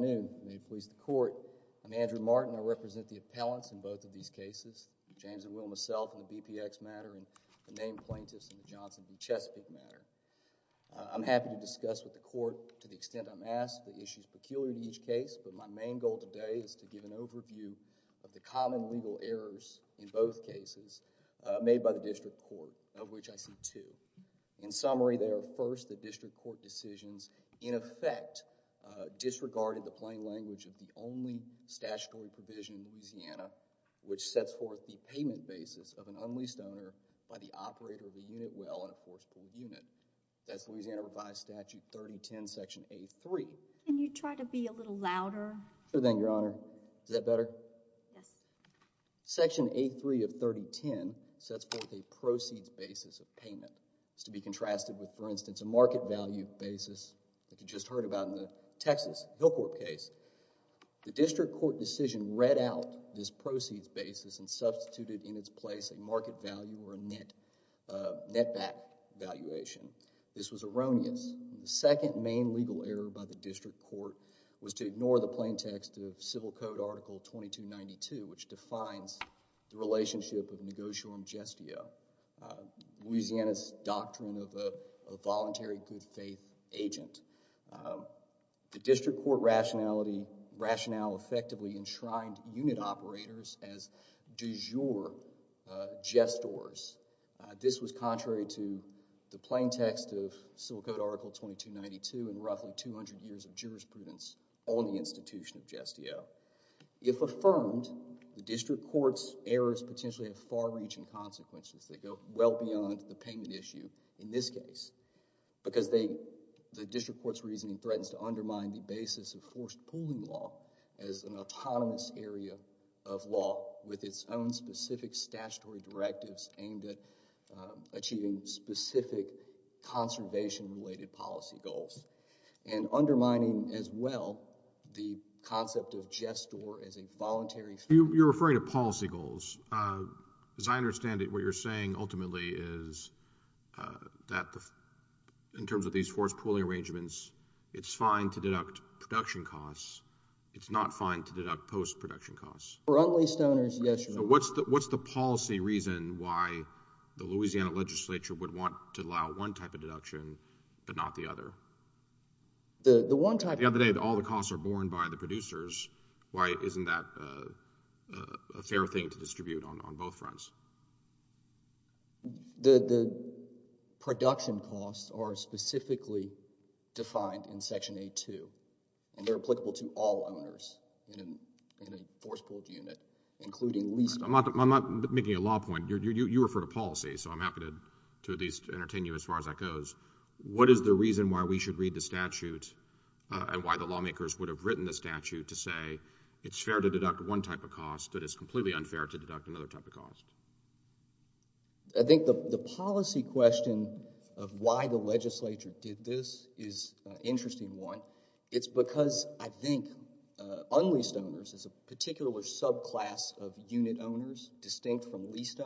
I'm Andrew Martin. I represent the appellants in both of these cases, James and Will, myself in the B P X matter and the named plaintiffs in the Johnson v. Chesapeake matter. I'm happy to discuss with the court to the extent I'm asked the issues peculiar to each case, but my main goal today is to give an overview of the common legal errors in both cases made by the district court, of which I see two. In summary, they are first the district court in effect disregarded the plain language of the only statutory provision in Louisiana which sets forth the payment basis of an unleased owner by the operator of the unit well and of course per unit. That's Louisiana Revised Statute 3010, Section A3. Can you try to be a little louder? Sure thing, Your Honor. Is that better? Yes. Section A3 of 3010 sets forth a proceeds basis of payment. It's to be contrasted with, for instance, a market value basis that you just heard about in the Texas Hillcourt case. The district court decision read out this proceeds basis and substituted in its place a market value or a netback valuation. This was erroneous. The second main legal error by the district court was to ignore the plain text of Civil Code Article 2292, which defines the relationship of negotiorum gestio, Louisiana's doctrine of a voluntary good-faith agent. The district court rationality rationale effectively enshrined unit operators as du jour gestors. This was contrary to the restitution of gestio. If affirmed, the district court's errors potentially have far-reaching consequences that go well beyond the payment issue in this case because the district court's reasoning threatens to undermine the basis of forced pooling law as an autonomous area of law with its own specific statutory directives aimed at achieving specific conservation-related policy goals and undermining, as well, the concept of gestor as a voluntary... You're referring to policy goals. As I understand it, what you're saying ultimately is that in terms of these forced pooling arrangements, it's fine to deduct production costs. It's not fine to deduct post-production costs. For unlaced owners, yes, Your Honor. What's the policy reason why the Louisiana legislature would want to allow one type of the other? The one type... The other day, all the costs are borne by the producers. Why isn't that a fair thing to distribute on both fronts? The production costs are specifically defined in Section 8-2, and they're applicable to all owners in a forced pool unit, including leased... I'm not making a law point. You referred to policy, so I'm happy to at least entertain you as far as that goes. What is the reason why we should read the statute and why the lawmakers would have written the statute to say it's fair to deduct one type of cost that is completely unfair to deduct another type of cost? I think the policy question of why the legislature did this is an interesting one. It's because, I think, unleased owners, as a particular subclass of unit owners distinct from leased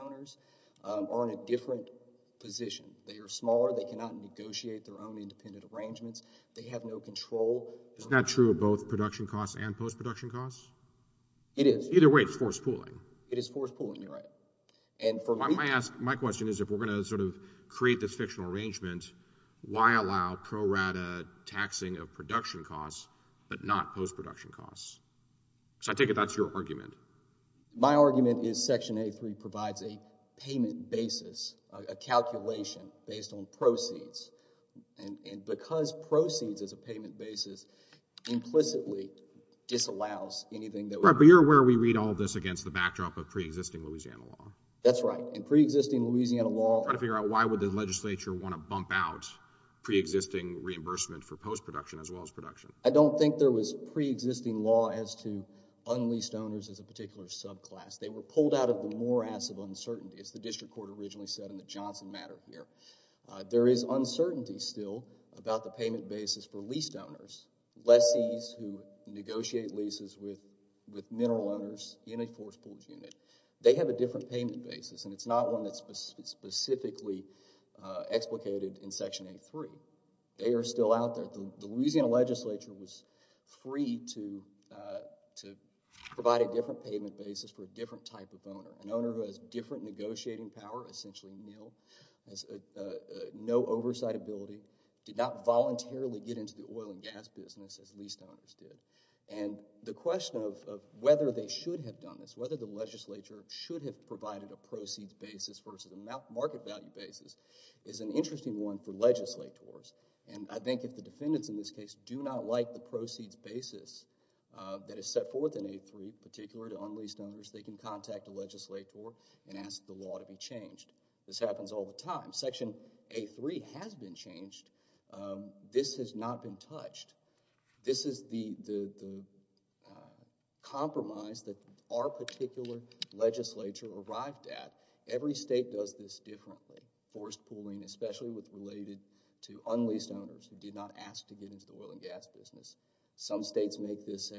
position. They are smaller. They cannot negotiate their own independent arrangements. They have no control. Isn't that true of both production costs and post-production costs? It is. Either way, it's forced pooling. It is forced pooling. You're right. And for me... My question is, if we're going to sort of create this fictional arrangement, why allow pro rata taxing of production costs but not post-production costs? Because I take it that's your argument. My argument is Section 8.3 provides a payment basis, a calculation based on proceeds. And because proceeds is a payment basis, implicitly disallows anything that... Right, but you're aware we read all this against the backdrop of pre-existing Louisiana law. That's right. In pre-existing Louisiana law... Trying to figure out why would the legislature want to bump out pre-existing reimbursement for post-production as well as production. I don't think there was pre-existing law as to unleased owners as a particular subclass. They were pulled out of the morass of uncertainty, as the district court originally said in the Johnson matter here. There is uncertainty still about the payment basis for leased owners, lessees who negotiate leases with mineral owners in a forced pooling unit. They have a different payment basis, and it's not one that's specifically explicated in Section 8.3. They are still out there. The Louisiana legislature was free to provide a different payment basis for a different type of owner. An owner who has different negotiating power, essentially a mill, has no oversight ability, did not voluntarily get into the oil and gas business as leased owners did. And the question of whether they should have done this, whether the legislature should have provided a proceeds basis versus a market value basis, is an interesting one for legislators. And I think if the defendants in this case do not like the proceeds basis that is set forth in 8.3, particular to unleased owners, they can contact a legislator and ask the law to be changed. This happens all the time. Section 8.3 has been changed. This has not been touched. This is the compromise that our particular legislature arrived at. Every state does this differently. Forced pooling, especially with related to unleased owners who did not ask to get into the oil and gas business. Some states make this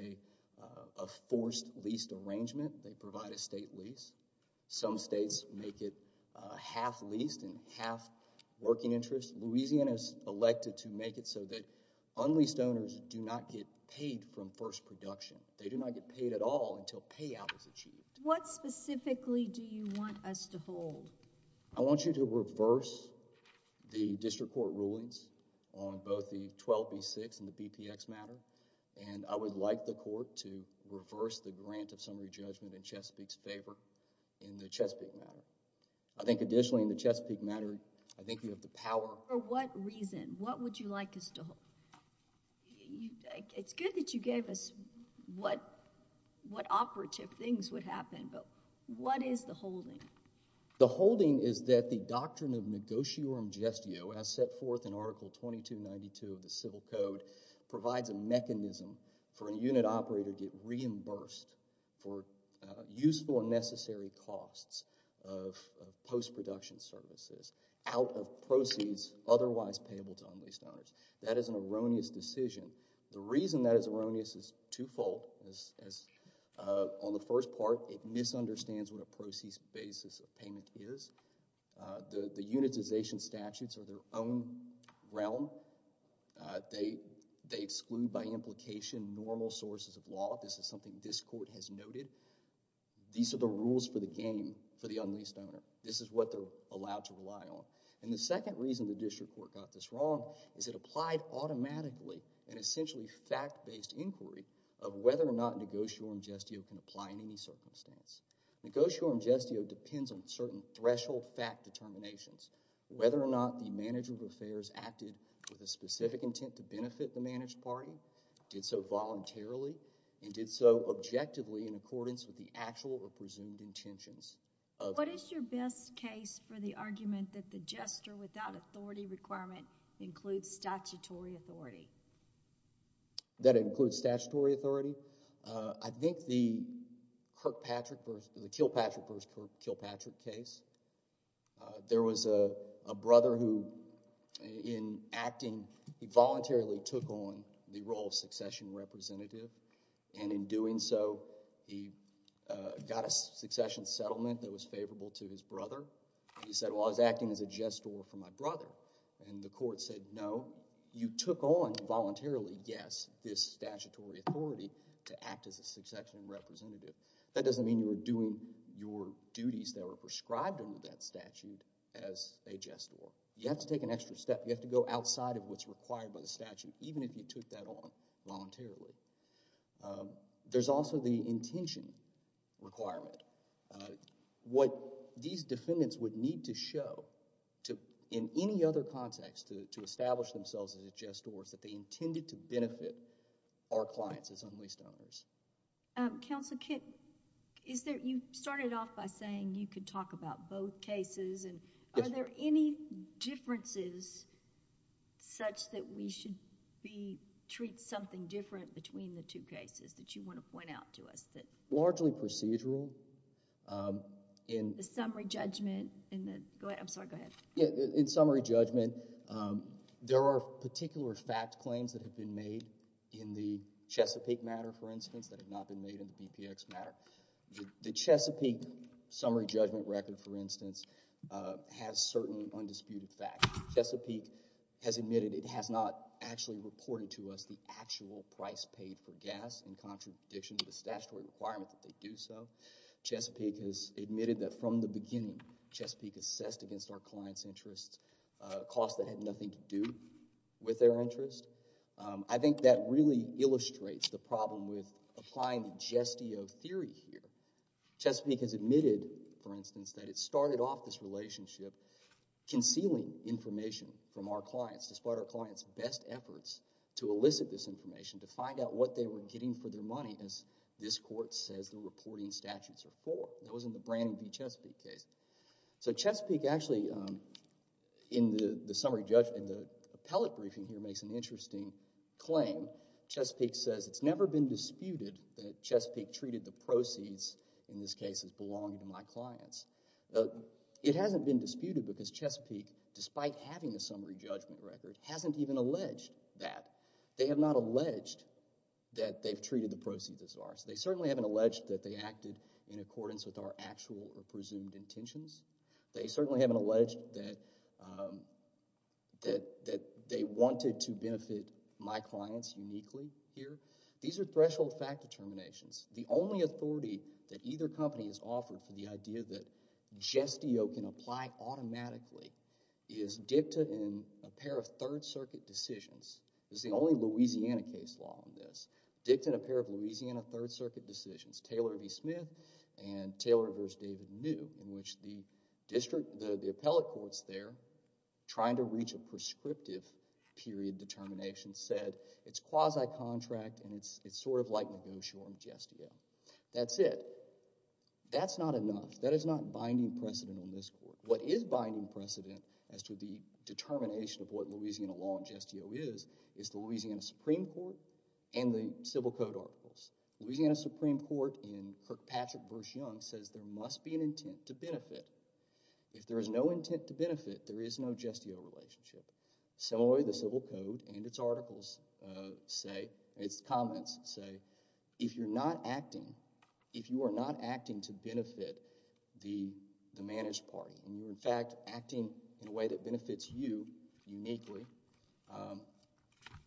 a forced leased arrangement. They provide a state lease. Some states make it half leased and half working interest. Louisiana is elected to make it so that unleased owners do not get paid from first production. They do not get paid at all until payout is achieved. What specifically do you want us to hold? I want you to reverse the district court rulings on both the 12B6 and the BPX matter. And I would like the court to reverse the grant of summary judgment in Chesapeake's favor in the Chesapeake matter. I think additionally in the Chesapeake matter, I think you have the power... For what reason? What would you like us to hold? It's good that you gave us what operative things would happen, but what is the holding? The holding is that the doctrine of negotiorum gestio, as set forth in Article 2292 of the Civil Code, provides a mechanism for a unit operator to get reimbursed for useful and necessary costs of post-production services out of proceeds otherwise payable to unleased owners. On the first part, it misunderstands what a proceeds basis of payment is. The unitization statutes are their own realm. They exclude by implication normal sources of law. This is something this court has noted. These are the rules for the game for the unleased owner. This is what they're allowed to rely on. And the second reason the district court got this wrong is it applied automatically an essentially fact-based inquiry of whether or not negotiorum gestio can apply in any circumstance. Negotiorum gestio depends on certain threshold fact determinations. Whether or not the manager of affairs acted with a specific intent to benefit the managed party, did so voluntarily, and did so objectively in accordance with the actual or presumed intentions of... What is your best case for the argument that the gesture without authority requirement includes statutory authority? That it includes statutory authority? I think the Kirkpatrick versus... the Kilpatrick versus Kirkpatrick case, there was a brother who, in acting, he voluntarily took on the role of succession representative, and in doing so, he got a succession settlement that was favorable to his brother. He said, well, I was acting as a gestor for my brother. And the court said, no, you took on voluntarily, yes, this statutory authority to act as a succession representative. That doesn't mean you were doing your duties that were prescribed under that statute as a gestor. You have to take an extra step. You have to go outside of what's required by the statute, even if you took that on voluntarily. There's also the intention requirement. What these defendants would need to show to... to establish themselves as a gestor is that they intended to benefit our clients as unleashed owners. Counsel, you started off by saying you could talk about both cases. Are there any differences such that we should be... treat something different between the two cases that you want to point out to us? Largely procedural. The summary judgment in the... go ahead. I'm sorry, go ahead. In summary judgment, there are particular fact claims that have been made in the Chesapeake matter, for instance, that have not been made in the BPX matter. The Chesapeake summary judgment record, for instance, has certain undisputed facts. Chesapeake has admitted it has not actually reported to us the actual price paid for gas in contradiction to the statutory requirement that they do so. Chesapeake has admitted, for instance, that it started off this relationship concealing information from our clients despite our clients' best efforts to elicit this information, to find out what they were getting for their money as this court says the reporting statutes are for. That wasn't the Brannan v. Chesapeake case. So Chesapeake actually, in the summary judgment, the appellate briefing here makes an interesting claim. Chesapeake says it's never been disputed that Chesapeake treated the proceeds, in this case, as belonging to my clients. It hasn't been disputed because Chesapeake, despite having a summary judgment record, hasn't even alleged that. They have not alleged that they've treated the proceeds as ours. They certainly haven't alleged that they acted in accordance with our actual or presumed intentions. They certainly haven't alleged that they wanted to benefit my clients uniquely here. These are threshold fact determinations. The only authority that either company has offered for the idea that gestio can apply automatically is dicta in a pair of Third Circuit decisions. It's the only Louisiana case law on this. Dicta in a pair of Chesapeake v. Smith and Taylor v. David New, in which the district, the appellate courts there, trying to reach a prescriptive period determination, said it's quasi-contract and it's sort of like negotiable gestio. That's it. That's not enough. That is not binding precedent in this court. What is binding precedent as to the determination of what Louisiana law on gestio is, is the Louisiana Supreme Court and the civil code articles. Louisiana Supreme Court in Kirk Patrick v. Young says there must be an intent to benefit. If there is no intent to benefit, there is no gestio relationship. Similarly, the civil code and its articles say, its comments say, if you're not acting, if you are not acting to benefit the managed party and you're in fact acting in a way that benefits you uniquely,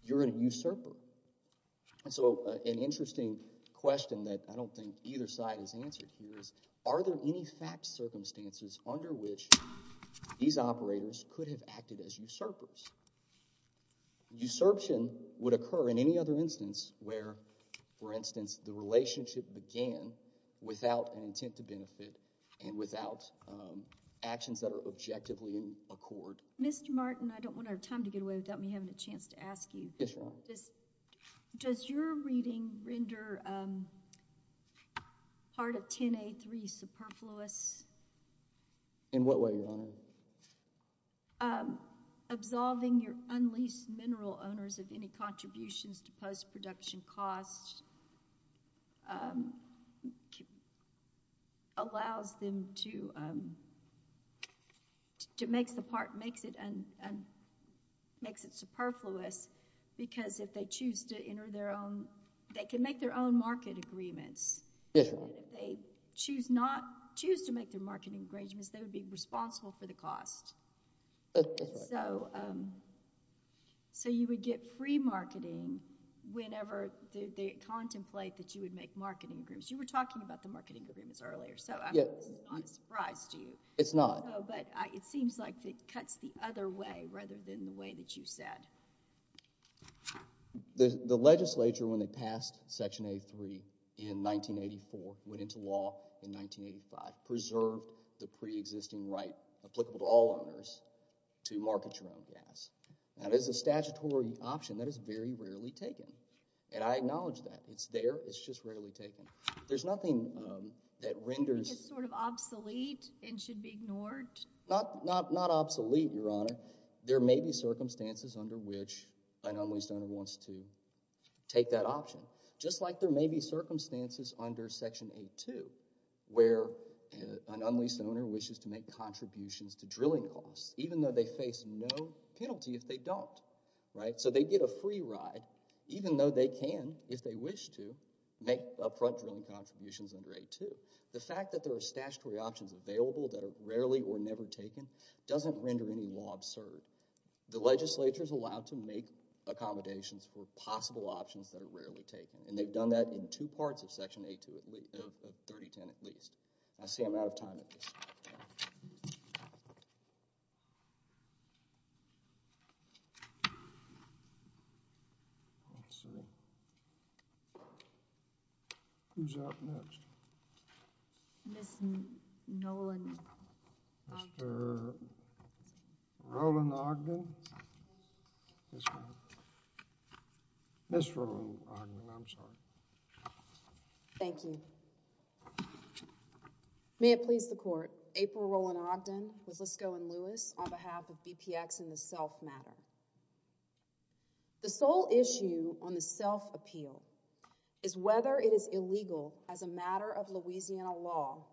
you're an usurper. And so an interesting question that I don't think either side has answered here is, are there any fact circumstances under which these operators could have acted as usurpers? Usurption would occur in any other instance where, for instance, the relationship began without an intent to benefit and without actions that are objectively in accord. Mr. Martin, I don't want to have time to get away without me having a chance to ask you. Yes, Your Honor. Does your reading render part of 10A3 superfluous? In what way, Your Honor? Absolving your unleased mineral owners of any contributions to post-production costs allows them to, makes it superfluous because if they choose to enter their own, they can make their own market agreements. Yes, Your Honor. If they choose to make their marketing agreements, they would be responsible for the cost. That's right. So you would get free marketing whenever they contemplate that you would make marketing agreements. You were talking about the marketing agreements earlier, so this is not a surprise to you. It's not. But it seems like it cuts the other way rather than the way that you said. The legislature, when they passed Section A3 in 1984, went into law in 1985, preserved the pre-existing right applicable to all owners to market your own gas. That is a statutory option that is very rarely taken, and I acknowledge that. It's there. It's just rarely taken. There's nothing that renders... It's sort of obsolete and should be ignored? Not obsolete, Your Honor. There may be circumstances under which an unleased owner wants to take that option, just like there may be circumstances under Section A2 where an unleased owner wishes to make contributions to drilling costs, even though they face no penalty if they don't. So they get a free ride, even though they can, if they wish to, make upfront drilling contributions under A2. The fact that there are statutory options available that are rarely or never taken doesn't render any law absurd. The legislature is allowed to make accommodations for possible options that are rarely taken, and they've done that in two parts of Section A2 of 3010 at least. I see I'm out of time at this point. Let's see. Who's up next? Ms. Nolan Ogden. Mr. Roland Ogden? Ms. Roland Ogden, I'm sorry. Thank you. May it please the Court, April Roland Ogden with Lisko and Lewis on behalf of BPX and the self matter. The sole issue on the self appeal is whether it is illegal as a matter of Louisiana law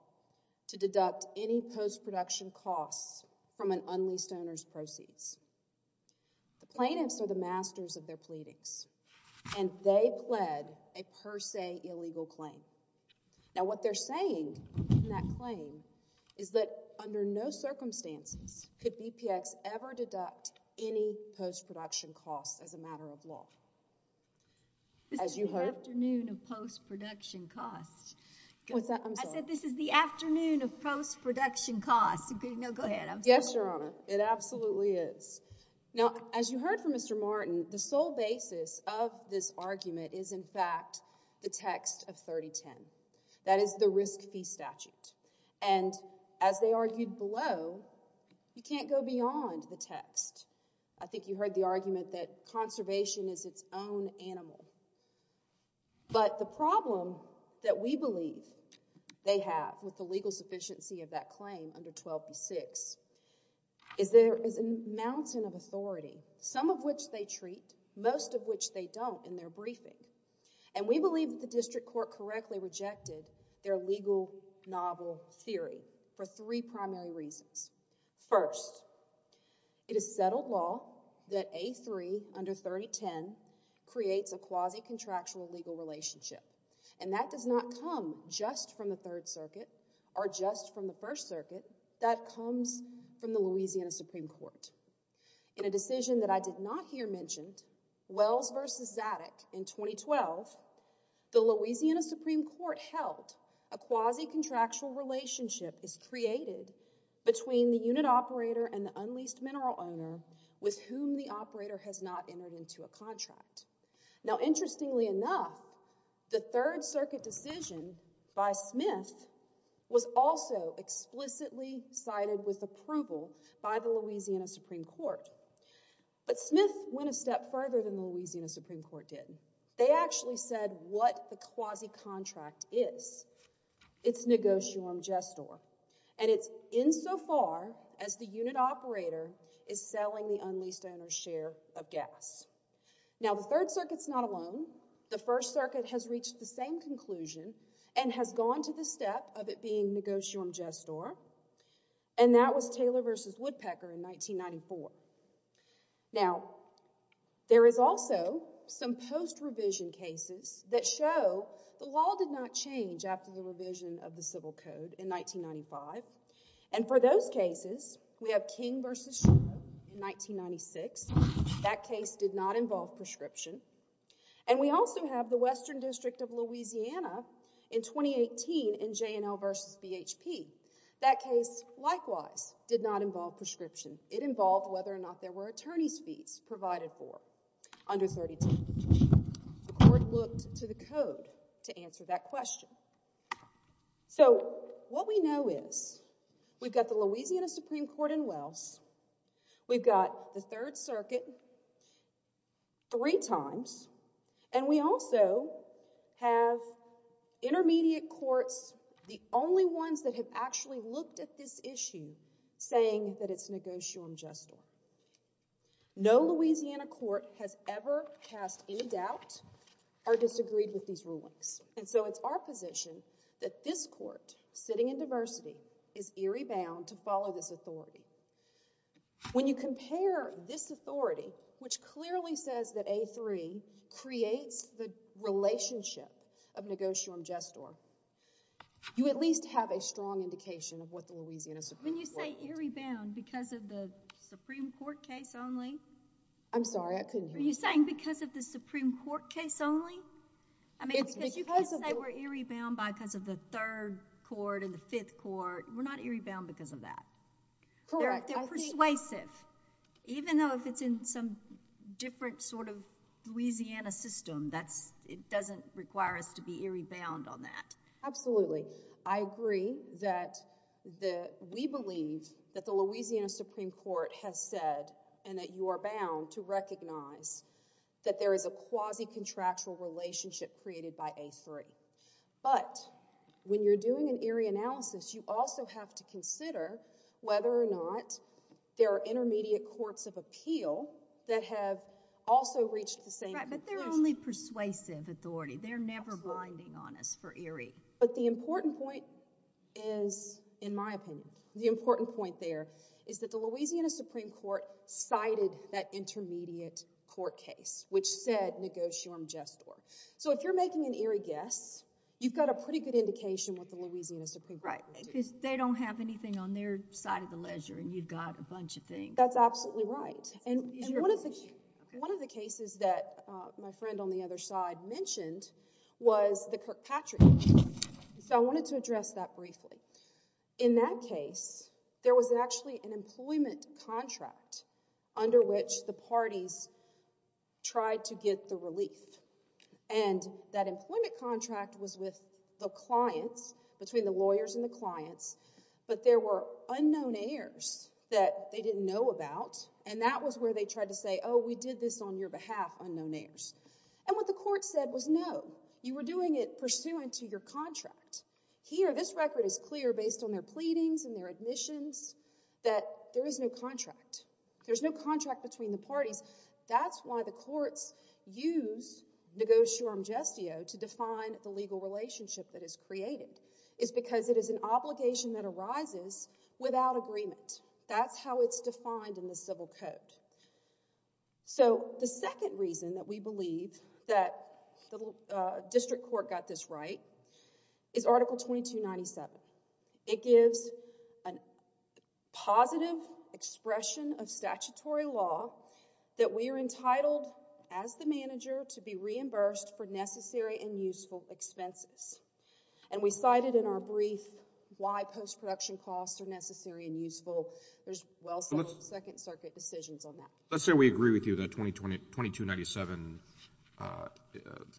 to deduct any post-production costs from an unleased owner's proceeds. The plaintiffs are the masters of their pleadings, and they pled a per se illegal claim. Now what they're saying in that claim is that under no circumstances could BPX ever deduct any post-production costs as a matter of law. This is the afternoon of post-production costs. I said this is the afternoon of post-production costs. Yes, Your Honor. It absolutely is. Now as you heard from Mr. Martin, the sole basis of this argument is in fact the text of 3010. That is the risk fee statute. And as they argued below, you can't go beyond the text. I think you heard the argument that conservation is its own animal. But the problem that we believe they have with the legal sufficiency of that claim under 1206 is there is a mountain of authority, some of which they treat, most of which they don't in their briefing. And we believe that the district court correctly rejected their legal novel theory for three primary reasons. First, it is settled law that A3 under 3010 creates a quasi-contractual legal relationship. And that does not come just from the Third Circuit or just from the First Circuit. That comes from the Louisiana Supreme Court. In a decision that I did not hear mentioned, Wells v. Zadig in 2012, the Louisiana Supreme Court held a quasi-contractual relationship is created between the unit operator and the unleased mineral owner with whom the operator has not entered into a contract. Now, interestingly enough, the Third Circuit decision by Smith was also explicitly cited with approval by the Louisiana Supreme Court. But Smith went a step further than the Louisiana Supreme Court did. They actually said what the quasi-contract is. It's negotium gestor. And it's insofar as the unit operator is selling the unleased owner's share of gas. Now, the Third Circuit's not alone. The First Circuit has reached the same conclusion and has gone to the step of it being negotium gestor. And that was Taylor v. Woodpecker in 1994. Now, there is also some post-revision cases that show the law did not change after the revision of the Civil Code in 1995. And for those cases, we have King v. Shuler in 1996. That case did not involve prescription. And we also have the Western District of Louisiana in 2018 in J&L v. BHP. That case, likewise, did not involve prescription. It involved whether or not there were attorney's fees provided for under 32. The court looked to the code to answer that question. So, what we know is we've got the Louisiana Supreme Court in Wells. We've got the Third Circuit three times. And we also have intermediate courts, the only ones that have actually looked at this issue saying that it's negotium gestor. No Louisiana court has ever cast any doubt or disagreed with these rulings. And so, it's our position that this court, sitting in diversity, is eerie bound to follow this authority. When you compare this authority, which clearly says that A3 creates the relationship of negotium gestor, you at least have a strong indication of what the Louisiana Supreme Court When you say eerie bound, because of the Supreme Court case only? I'm sorry, I couldn't hear you. Are you saying because of the Supreme Court case only? I mean, because you can't say we're eerie bound because of the Third Court and the Fifth Court. We're not eerie bound because of that. Correct. They're persuasive. Even though if it's in some different sort of Louisiana system, it doesn't require us to be eerie bound on that. Absolutely. I agree that we believe that the Louisiana Supreme Court has said, and that you are bound to recognize that there is a quasi-contractual relationship created by A3. But, when you're doing an eerie analysis, you also have to consider whether or not there are intermediate courts of appeal that have also reached the same conclusion. Right, but they're only persuasive authority. They're never binding on us for eerie. But the important point is, in my opinion, the important point there is that the Louisiana Supreme Court cited that intermediate court case, which said negotium gestor. So, if you're making an eerie guess, you've got a pretty good indication what the Louisiana Supreme Court is doing. Right, because they don't have anything on their side of the ledger, and you've got a bunch of things. That's absolutely right. One of the cases that my friend on the other side mentioned was the Kirkpatrick case. So, I wanted to address that briefly. In that case, there was actually an employment contract under which the parties tried to get the relief. And that employment contract was with the clients, between the lawyers and the clients, but there were unknown heirs that they didn't know about, and that was where they tried to say, oh, we did this on your behalf, unknown heirs. And what the court said was, no, you were doing it on behalf of the clients. So, there was no contract between the parties. That's why the courts use negotium gestio to define the legal relationship that is created, is because it is an obligation that arises without agreement. That's how it's defined in the civil code. So, the second reason that we believe that the district court got this right is Article 2297. It gives a positive expression of statutory law that we are entitled, as the manager, to be reimbursed for necessary and useful expenses. And we cited in our brief why post-production costs are necessary and useful. There's well-settled Second Circuit decisions on that. Let's say we agree with you that Article 2297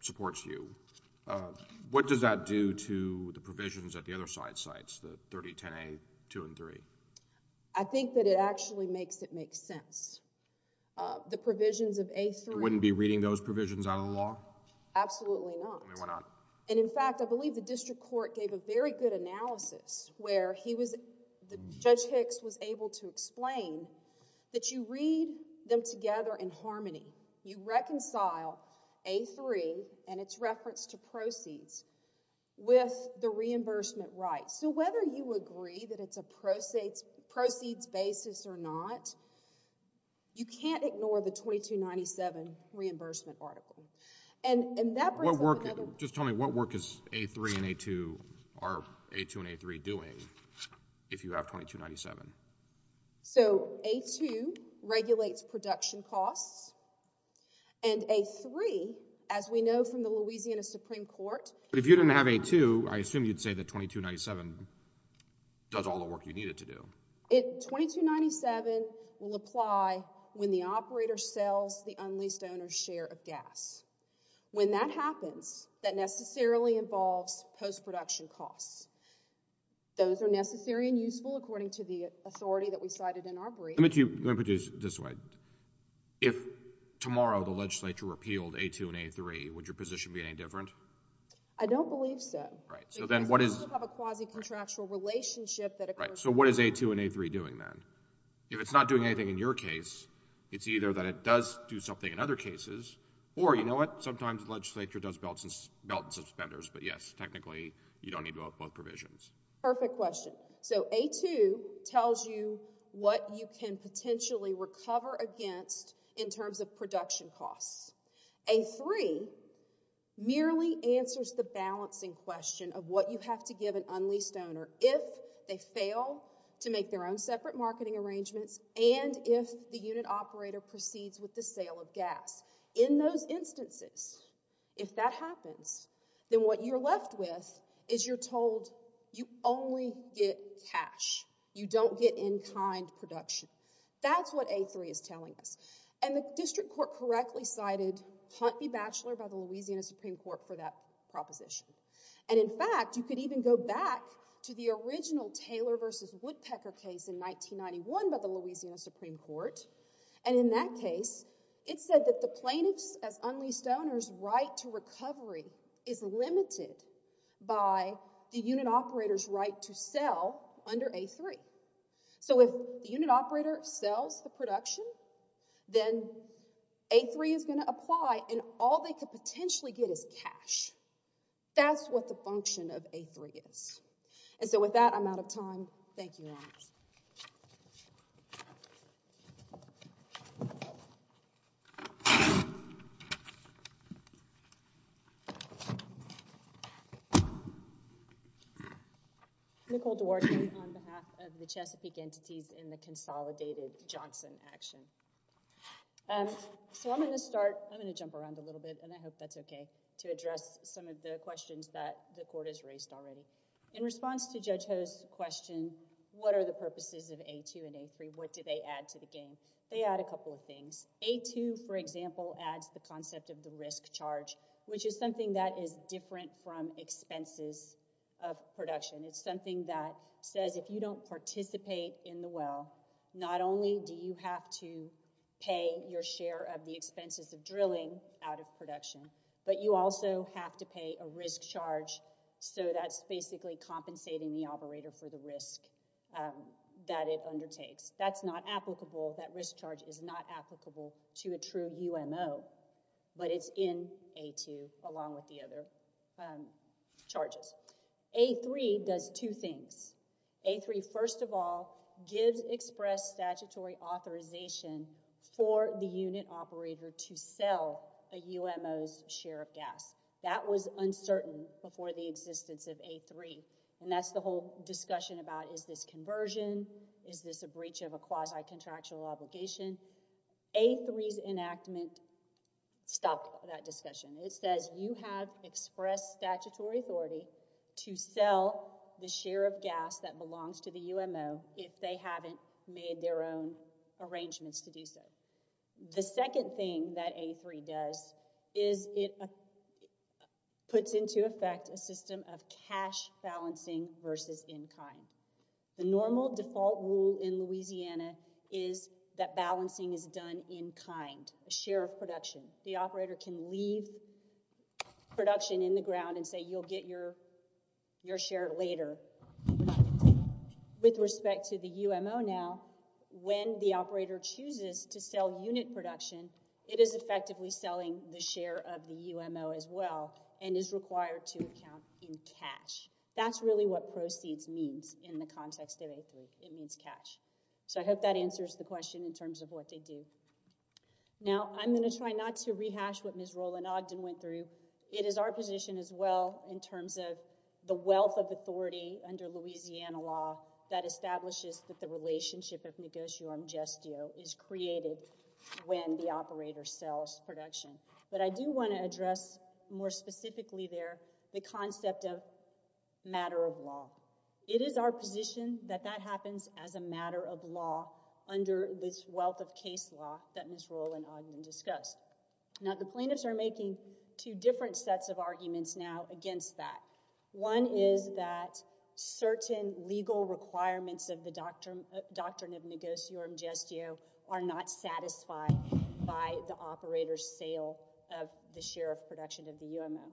supports you. What does that do to the provisions at the other side sites, the 3010A, 2, and 3? I think that it actually makes it make sense. The provisions of A3... You wouldn't be reading those provisions out of the law? Absolutely not. Why not? And, in fact, I believe the district court gave a very good analysis where he was... Judge Hicks was able to explain that you read them together in harmony. You reconcile A3 and its reference to proceeds with the reimbursement rights. So, whether you agree that it's a proceeds basis or not, you can't ignore the 2297 reimbursement article. And that brings up another... If you have 2297. So, A2 regulates production costs. And A3, as we know from the Louisiana Supreme Court... But if you didn't have A2, I assume you'd say that 2297 does all the work you need it to do. 2297 will apply when the operator sells the unleased owner's share of gas. When that happens, that necessarily involves post-production costs. Those are necessary and useful according to the authority that we cited in our brief. Let me put it this way. If, tomorrow, the legislature repealed A2 and A3, would your position be any different? I don't believe so. Right. So, then what is... Because we still have a quasi-contractual relationship that occurs... Right. So, what is A2 and A3 doing then? If it's not doing anything in your case, it's doing something in other cases. Or, you know what? Sometimes the legislature does belt and suspenders. But, yes, technically, you don't need to have both provisions. Perfect question. So, A2 tells you what you can potentially recover against in terms of production costs. A3 merely answers the balancing question of what you have to give an unleased owner if they fail to make their own separate marketing arrangements and if the unit operator proceeds with the sale of gas. In those instances, if that happens, then what you're left with is you're told you only get cash. You don't get in-kind production. That's what A3 is telling us. And the district court correctly cited Hunt v. Batchelor by the Louisiana Supreme Court for that Woodpecker case in 1991 by the Louisiana Supreme Court. And in that case, it said that the plaintiff's, as unleased owner's, right to recovery is limited by the unit operator's right to sell under A3. So, if the unit operator sells the production, then A3 is going to apply and all they could potentially get is cash. That's what the function of A3 is. And so, with that, I'm out of time. Thank you, Your Honor. Nicole Duarte on behalf of the Chesapeake Entities in the Consolidated Johnson Action. So, I'm going to start, I'm going to jump around a little bit, and I hope that's okay, to address some of the questions that the court has raised already. In response to Judge Ho's question, what are the purposes of A2 and A3? What do they add to the game? They add a couple of things. A2, for example, adds the concept of the risk charge, which is something that is different from expenses of production. It's something that says if you don't participate in the well, not only do you have to pay your share of the expenses of drilling out of production, but you also have to pay a risk charge, so that's basically compensating the operator for the risk that it undertakes. That's not applicable. That risk charge is not applicable to a true UMO, but it's in A2, along with the other charges. A3 does two things. A3, first of all, gives express statutory authorization for the unit operator to sell a UMO's share of gas. That was uncertain before the existence of A3, and that's the whole discussion about is this conversion, is this a breach of a quasi-contractual obligation? A3's enactment stopped that discussion. It says you have express statutory authority to sell the share of gas that belongs to the UMO if they haven't made their own arrangements to do so. The second thing that A3 does is it puts into effect a system of cash balancing versus in-kind. The normal default rule in Louisiana is that balancing is done in-kind, a share of production. The operator can leave production in the ground and say, you'll get your share later. With respect to the UMO now, when the operator chooses to sell unit production, it is effectively selling the share of the UMO as well and is required to account in cash. That's really what proceeds means in the context of A3. It means cash. I hope that answers the question in terms of what they do. Now, I'm going to try not to rehash what Ms. Roland-Ogden went through. It is our position as well in terms of the wealth of authority under Louisiana law that establishes that the relationship of negotio am gestio is created when the operator sells production. I do want to address more specifically there the concept of matter of law. It is our position that that happens as a matter of law under this wealth of case law that Ms. Roland-Ogden discussed. The plaintiffs are making two different sets of arguments now against that. One is that certain legal requirements of the doctrine of negotio am gestio are not satisfied by the operator's sale of the share of production of the UMO.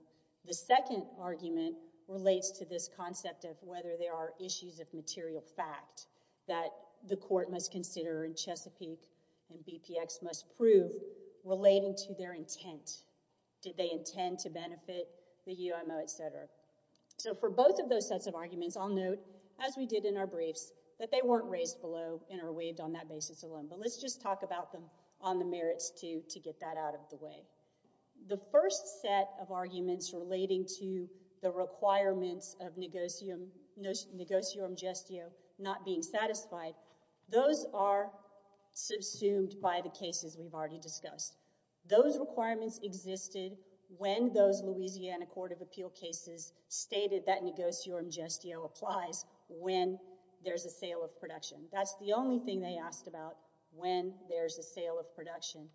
The second argument relates to this concept of whether there are issues of material fact that the court must consider in Chesapeake and BPX must prove relating to their intent. So for both of those sets of arguments, I'll note, as we did in our briefs, that they weren't raised below and are waived on that basis alone. But let's just talk about them on the merits to get that out of the way. The first set of arguments relating to the requirements of negotio am gestio not being satisfied, those are subsumed by the cases we've already discussed. Those requirements existed when those Louisiana Court of Appeal cases stated that negotio am gestio applies when there's a sale of production. That's the only thing they asked about when there's a sale of production.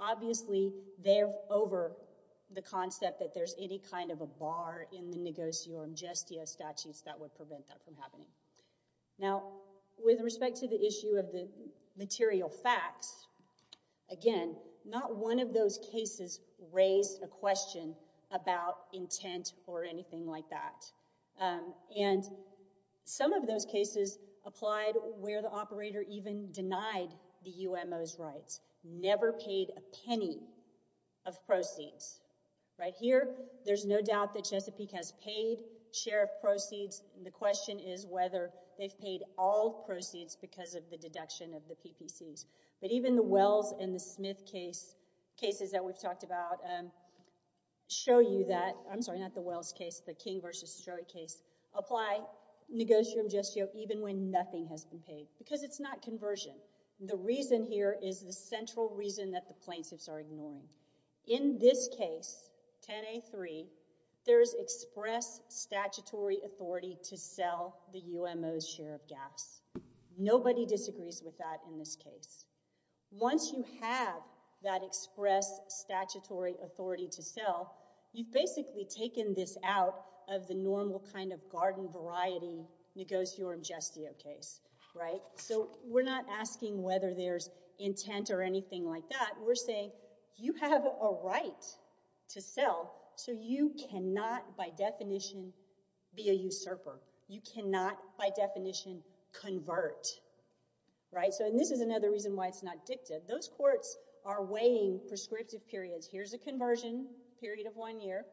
Obviously, they're over the concept that there's any kind of a bar in the negotio am gestio statutes that would prevent that from happening. Now, with respect to the issue of the material facts, again, not one of those cases raised a question about intent or anything like that. And some of those cases applied where the operator even denied the UMO's rights, never paid a penny of proceeds. Right here, there's no doubt that Chesapeake has paid share of proceeds. The question is whether they've paid all proceeds because of the deduction of the PPCs. But even the Wells and the Smith cases that we've talked about show you that—I'm sorry, not the Wells case, the King v. Stroik case—apply negotio am gestio even when nothing has been paid because it's not conversion. The reason here is the central reason that the plaintiffs are ignoring. In this case, 10A3, there's express statutory authority to sell the UMO's share of gaps. Nobody disagrees with that in this case. Once you have that express statutory authority to sell, you've basically taken this out of the normal kind of asking whether there's intent or anything like that. We're saying, you have a right to sell, so you cannot, by definition, be a usurper. You cannot, by definition, convert. This is another reason why it's not dictative. Those courts are weighing prescriptive periods. Here's a conversion period of one year.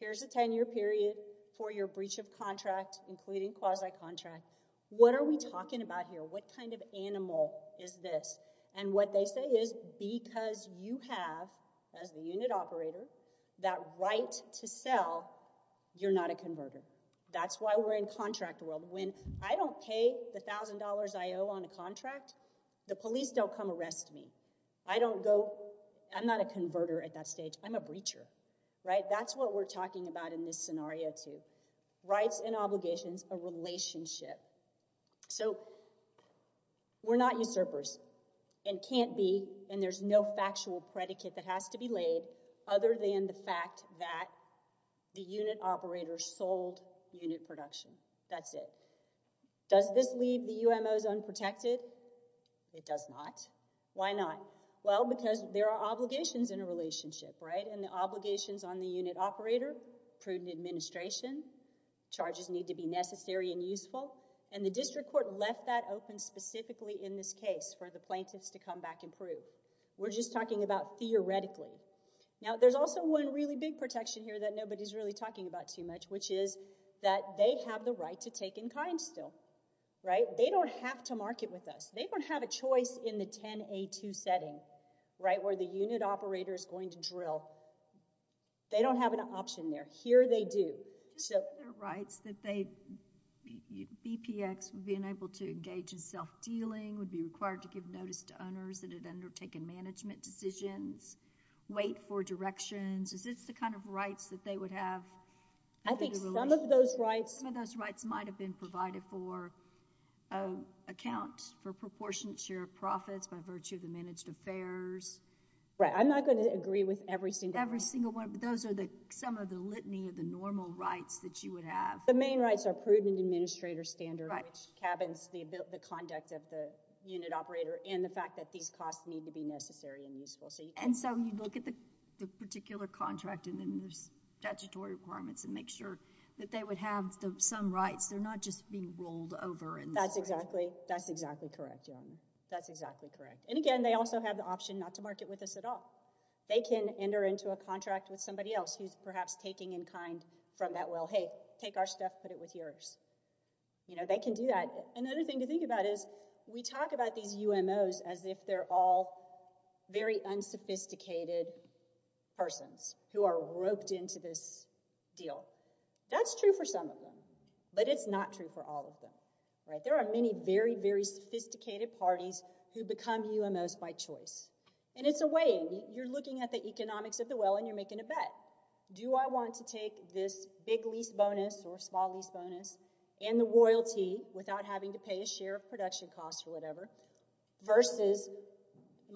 Here's a 10-year period for your UMO. What they say is, because you have, as the unit operator, that right to sell, you're not a converter. That's why we're in contract world. When I don't pay the $1,000 I owe on a contract, the police don't come arrest me. I'm not a converter at that stage. I'm a breacher. That's what we're talking about in this scenario, too. There are rights and obligations, a relationship. We're not usurpers and can't be, and there's no factual predicate that has to be laid other than the fact that the unit operator sold unit production. That's it. Does this leave the UMOs unprotected? It does not. Why not? Because there are obligations in a relationship. The obligations on the unit operator, prudent administration, charges need to be necessary and useful. The district court left that open specifically in this case for the plaintiffs to come back and prove. We're just talking about theoretically. There's also one really big protection here that nobody's really talking about too much, which is that they have the right to take in kind still. They don't have to market with us. They don't have a choice in the 10A2 setting where the unit operator is going to drill. They don't have an option there. Here they do. Are there rights that BPX being able to engage in self-dealing would be required to give notice to owners that had undertaken management decisions, wait for directions? Is this the kind of rights that they would have? I think some of those rights might have been provided for account for proportionate share of profits by virtue of the managed affairs. I'm not going to agree with every single one, but those are some of the litany of the normal rights that you would have. The main rights are prudent administrator standard, which cabins the conduct of the unit operator, and the fact that these costs need to be necessary and useful. You look at the particular contract and then there's statutory requirements to make sure that they would have some rights. They're not just being rolled over. That's exactly correct. Again, they also have the option not to market with us at all. They can enter into a contract with somebody else who's perhaps taking in kind from that, well, hey, take our stuff, put it with yours. They can do that. Another thing to think about is we talk about these UMOs as if they're all very unsophisticated persons who are roped into this deal. That's true for some of them, but it's not true for all of them. There are many very, very sophisticated parties who become UMOs by choice. It's a way. You're looking at the economics of the well and you're making a bet. Do I want to take this big lease bonus or small lease bonus and the royalty without having to pay a share of production costs or whatever, versus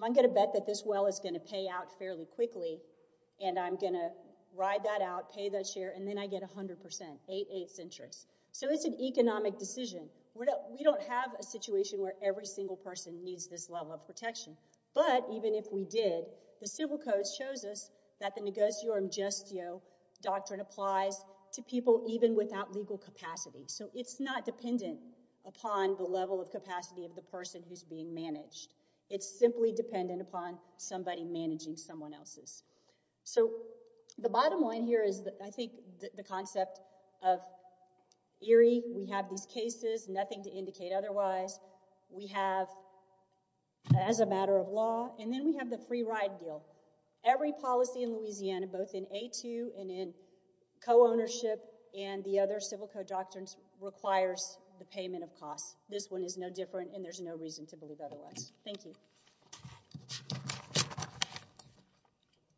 I'm going to bet that this well is going to pay out fairly quickly and I'm going to ride that out, pay that share, and then I get 100 percent, eight-eighths interest. It's an economic decision. We don't have a situation where every single person needs this level of protection. But even if we did, the civil codes shows us that the negosiorum gestio doctrine applies to people even without legal capacity. So it's not dependent upon the level of capacity of the person who's being managed. It's simply dependent upon somebody managing someone else's. The bottom line here is I think the concept of eerie. We have these laws. We have the free ride deal. Every policy in Louisiana, both in A2 and in co-ownership and the other civil code doctrines requires the payment of costs. This one is no different and there's no reason to believe otherwise. Thank you.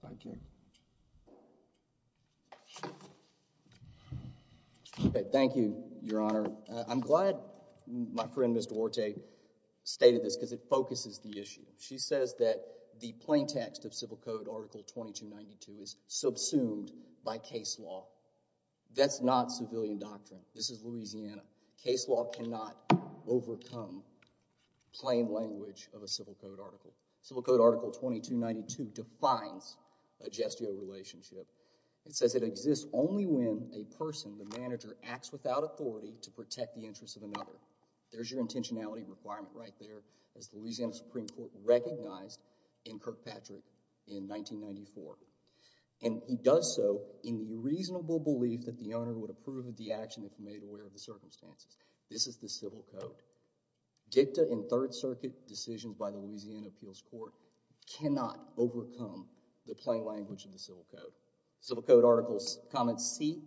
Thank you. Thank you, Your Honor. I'm glad my friend Ms. Duarte stated this because it focuses the issue. She says that the plain text of Civil Code Article 2292 is subsumed by case law. That's not civilian doctrine. This is Louisiana. Case law cannot overcome plain language of a civil code article. Civil Code Article 2292 defines a gestio relationship. It says it exists only when a person, the manager, acts without authority to protect the interests of another. There's your intentionality requirement right there as Louisiana Supreme Court recognized in Kirkpatrick in 1994. And he does so in the reasonable belief that the owner would approve of the action if made aware of the circumstances. This is the civil code. Dicta in Third Circuit decisions by the Civil Code Articles. Comment C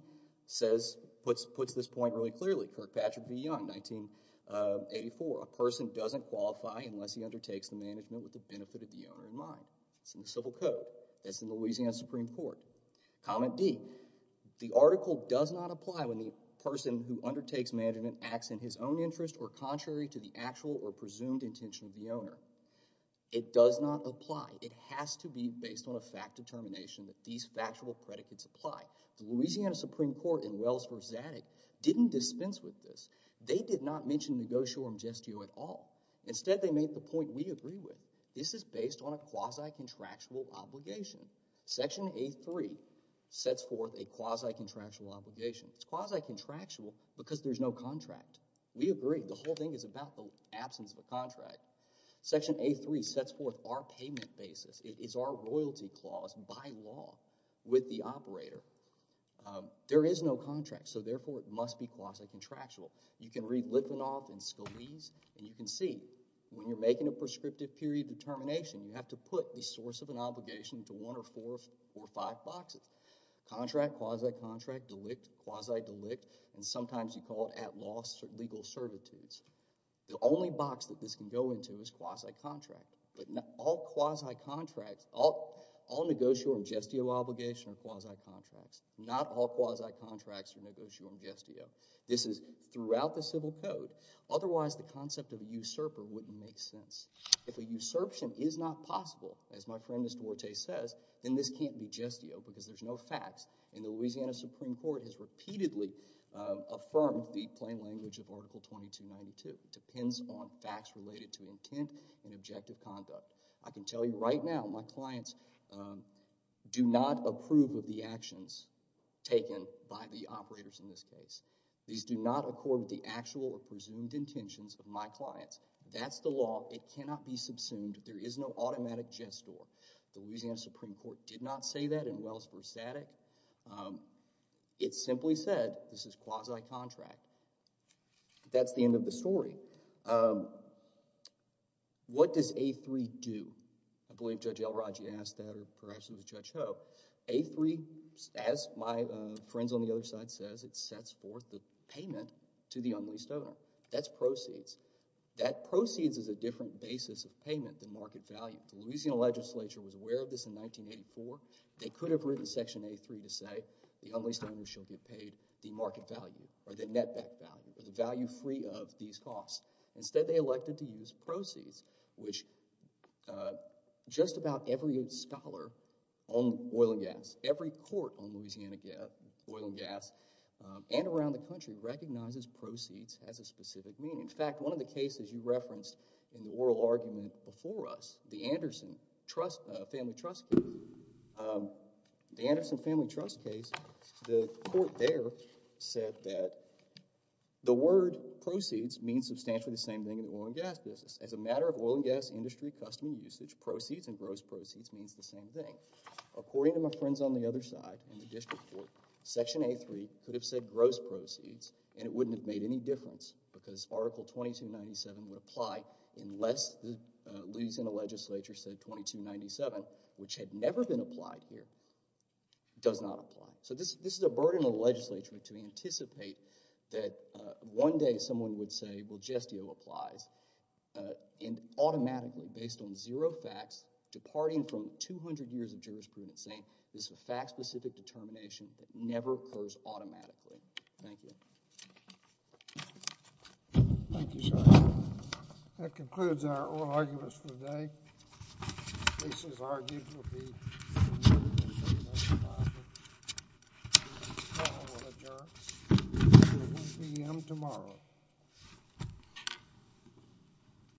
puts this point really clearly. Kirkpatrick v. Young, 1984. A person doesn't qualify unless he undertakes the management with the benefit of the owner in mind. It's in the civil code. It's in Louisiana Supreme Court. Comment D. The article does not apply when the person who undertakes management acts in his own interest or contrary to the actual or presumed intention of the owner. It does not apply. It has to be based on a fact determination that these factual predicates apply. The Louisiana Supreme Court in Wells v. Zadig didn't dispense with this. They did not mention negotio or gestio at all. Instead, they made the point we agree with. This is based on a quasi-contractual obligation. Section 8.3 sets forth a quasi-contractual obligation. It's quasi-contractual because there's no contract. We agree. The whole thing is about the absence of a contract. Section 8.3 sets forth our payment basis. It is our royalty clause by law with the operator. There is no contract, so therefore it must be quasi-contractual. You can read Litvinov and Scolese, and you can see when you're making a prescriptive period determination, you have to put the source of an obligation to one or four or five boxes. Contract, quasi-contract, delict, quasi-delict, and sometimes you call it at-law legal servitudes. The only box that this can go into is quasi-contract. But all quasi-contracts, all negotio and gestio obligations are quasi-contracts. Not all quasi-contracts are negotio and gestio. This is throughout the civil code. Otherwise, the concept of a usurper wouldn't make sense. If a usurpation is not possible, as my friend Ms. Duarte says, then this can't be gestio because there's no facts. And the Louisiana Supreme Court has repeatedly affirmed the plain language of Article 2292. It depends on facts related to intent and objective conduct. I can tell you right now, my clients do not approve of the actions taken by the operators in this case. These do not accord with the actual or presumed intentions of my clients. That's the law. It cannot be subsumed. There is no automatic gestio. The Louisiana Supreme Court did not say that in Wells v. Sattick. It simply said this is quasi-contract. That's the end of the story. What does A-3 do? I believe Judge Elrodge asked that or perhaps it was Judge Ho. A-3, as my friends on the other side says, it sets forth the payment to the unleased owner. That's proceeds. That proceeds is a different basis of payment than market value. The Louisiana legislature was aware of this in 1984. They could have written Section A-3 to say the unleased owner shall be paid the market value or the net back value or the value free of these costs. Instead, they elected to use proceeds, which just about every scholar on oil and gas, every court on Louisiana oil and gas and around the country recognizes proceeds as a specific meaning. In fact, one of the cases you referenced in the oral argument before us, the Anderson Family Trust case, the court there said that the word custom and usage, proceeds and gross proceeds, means the same thing. According to my friends on the other side in the district court, Section A-3 could have said gross proceeds and it wouldn't have made any difference because Article 2297 would apply unless Louisiana legislature said 2297, which had never been applied here, does not apply. This is a burden on the legislature to anticipate that one day someone would say, well, gestio applies, and automatically based on zero facts, departing from 200 years of jurisprudence saying this is a fact-specific determination that never occurs automatically. Thank you. Thank you, sir. That concludes our oral arguments for today. This is argued to be tomorrow at 1 p.m. tomorrow.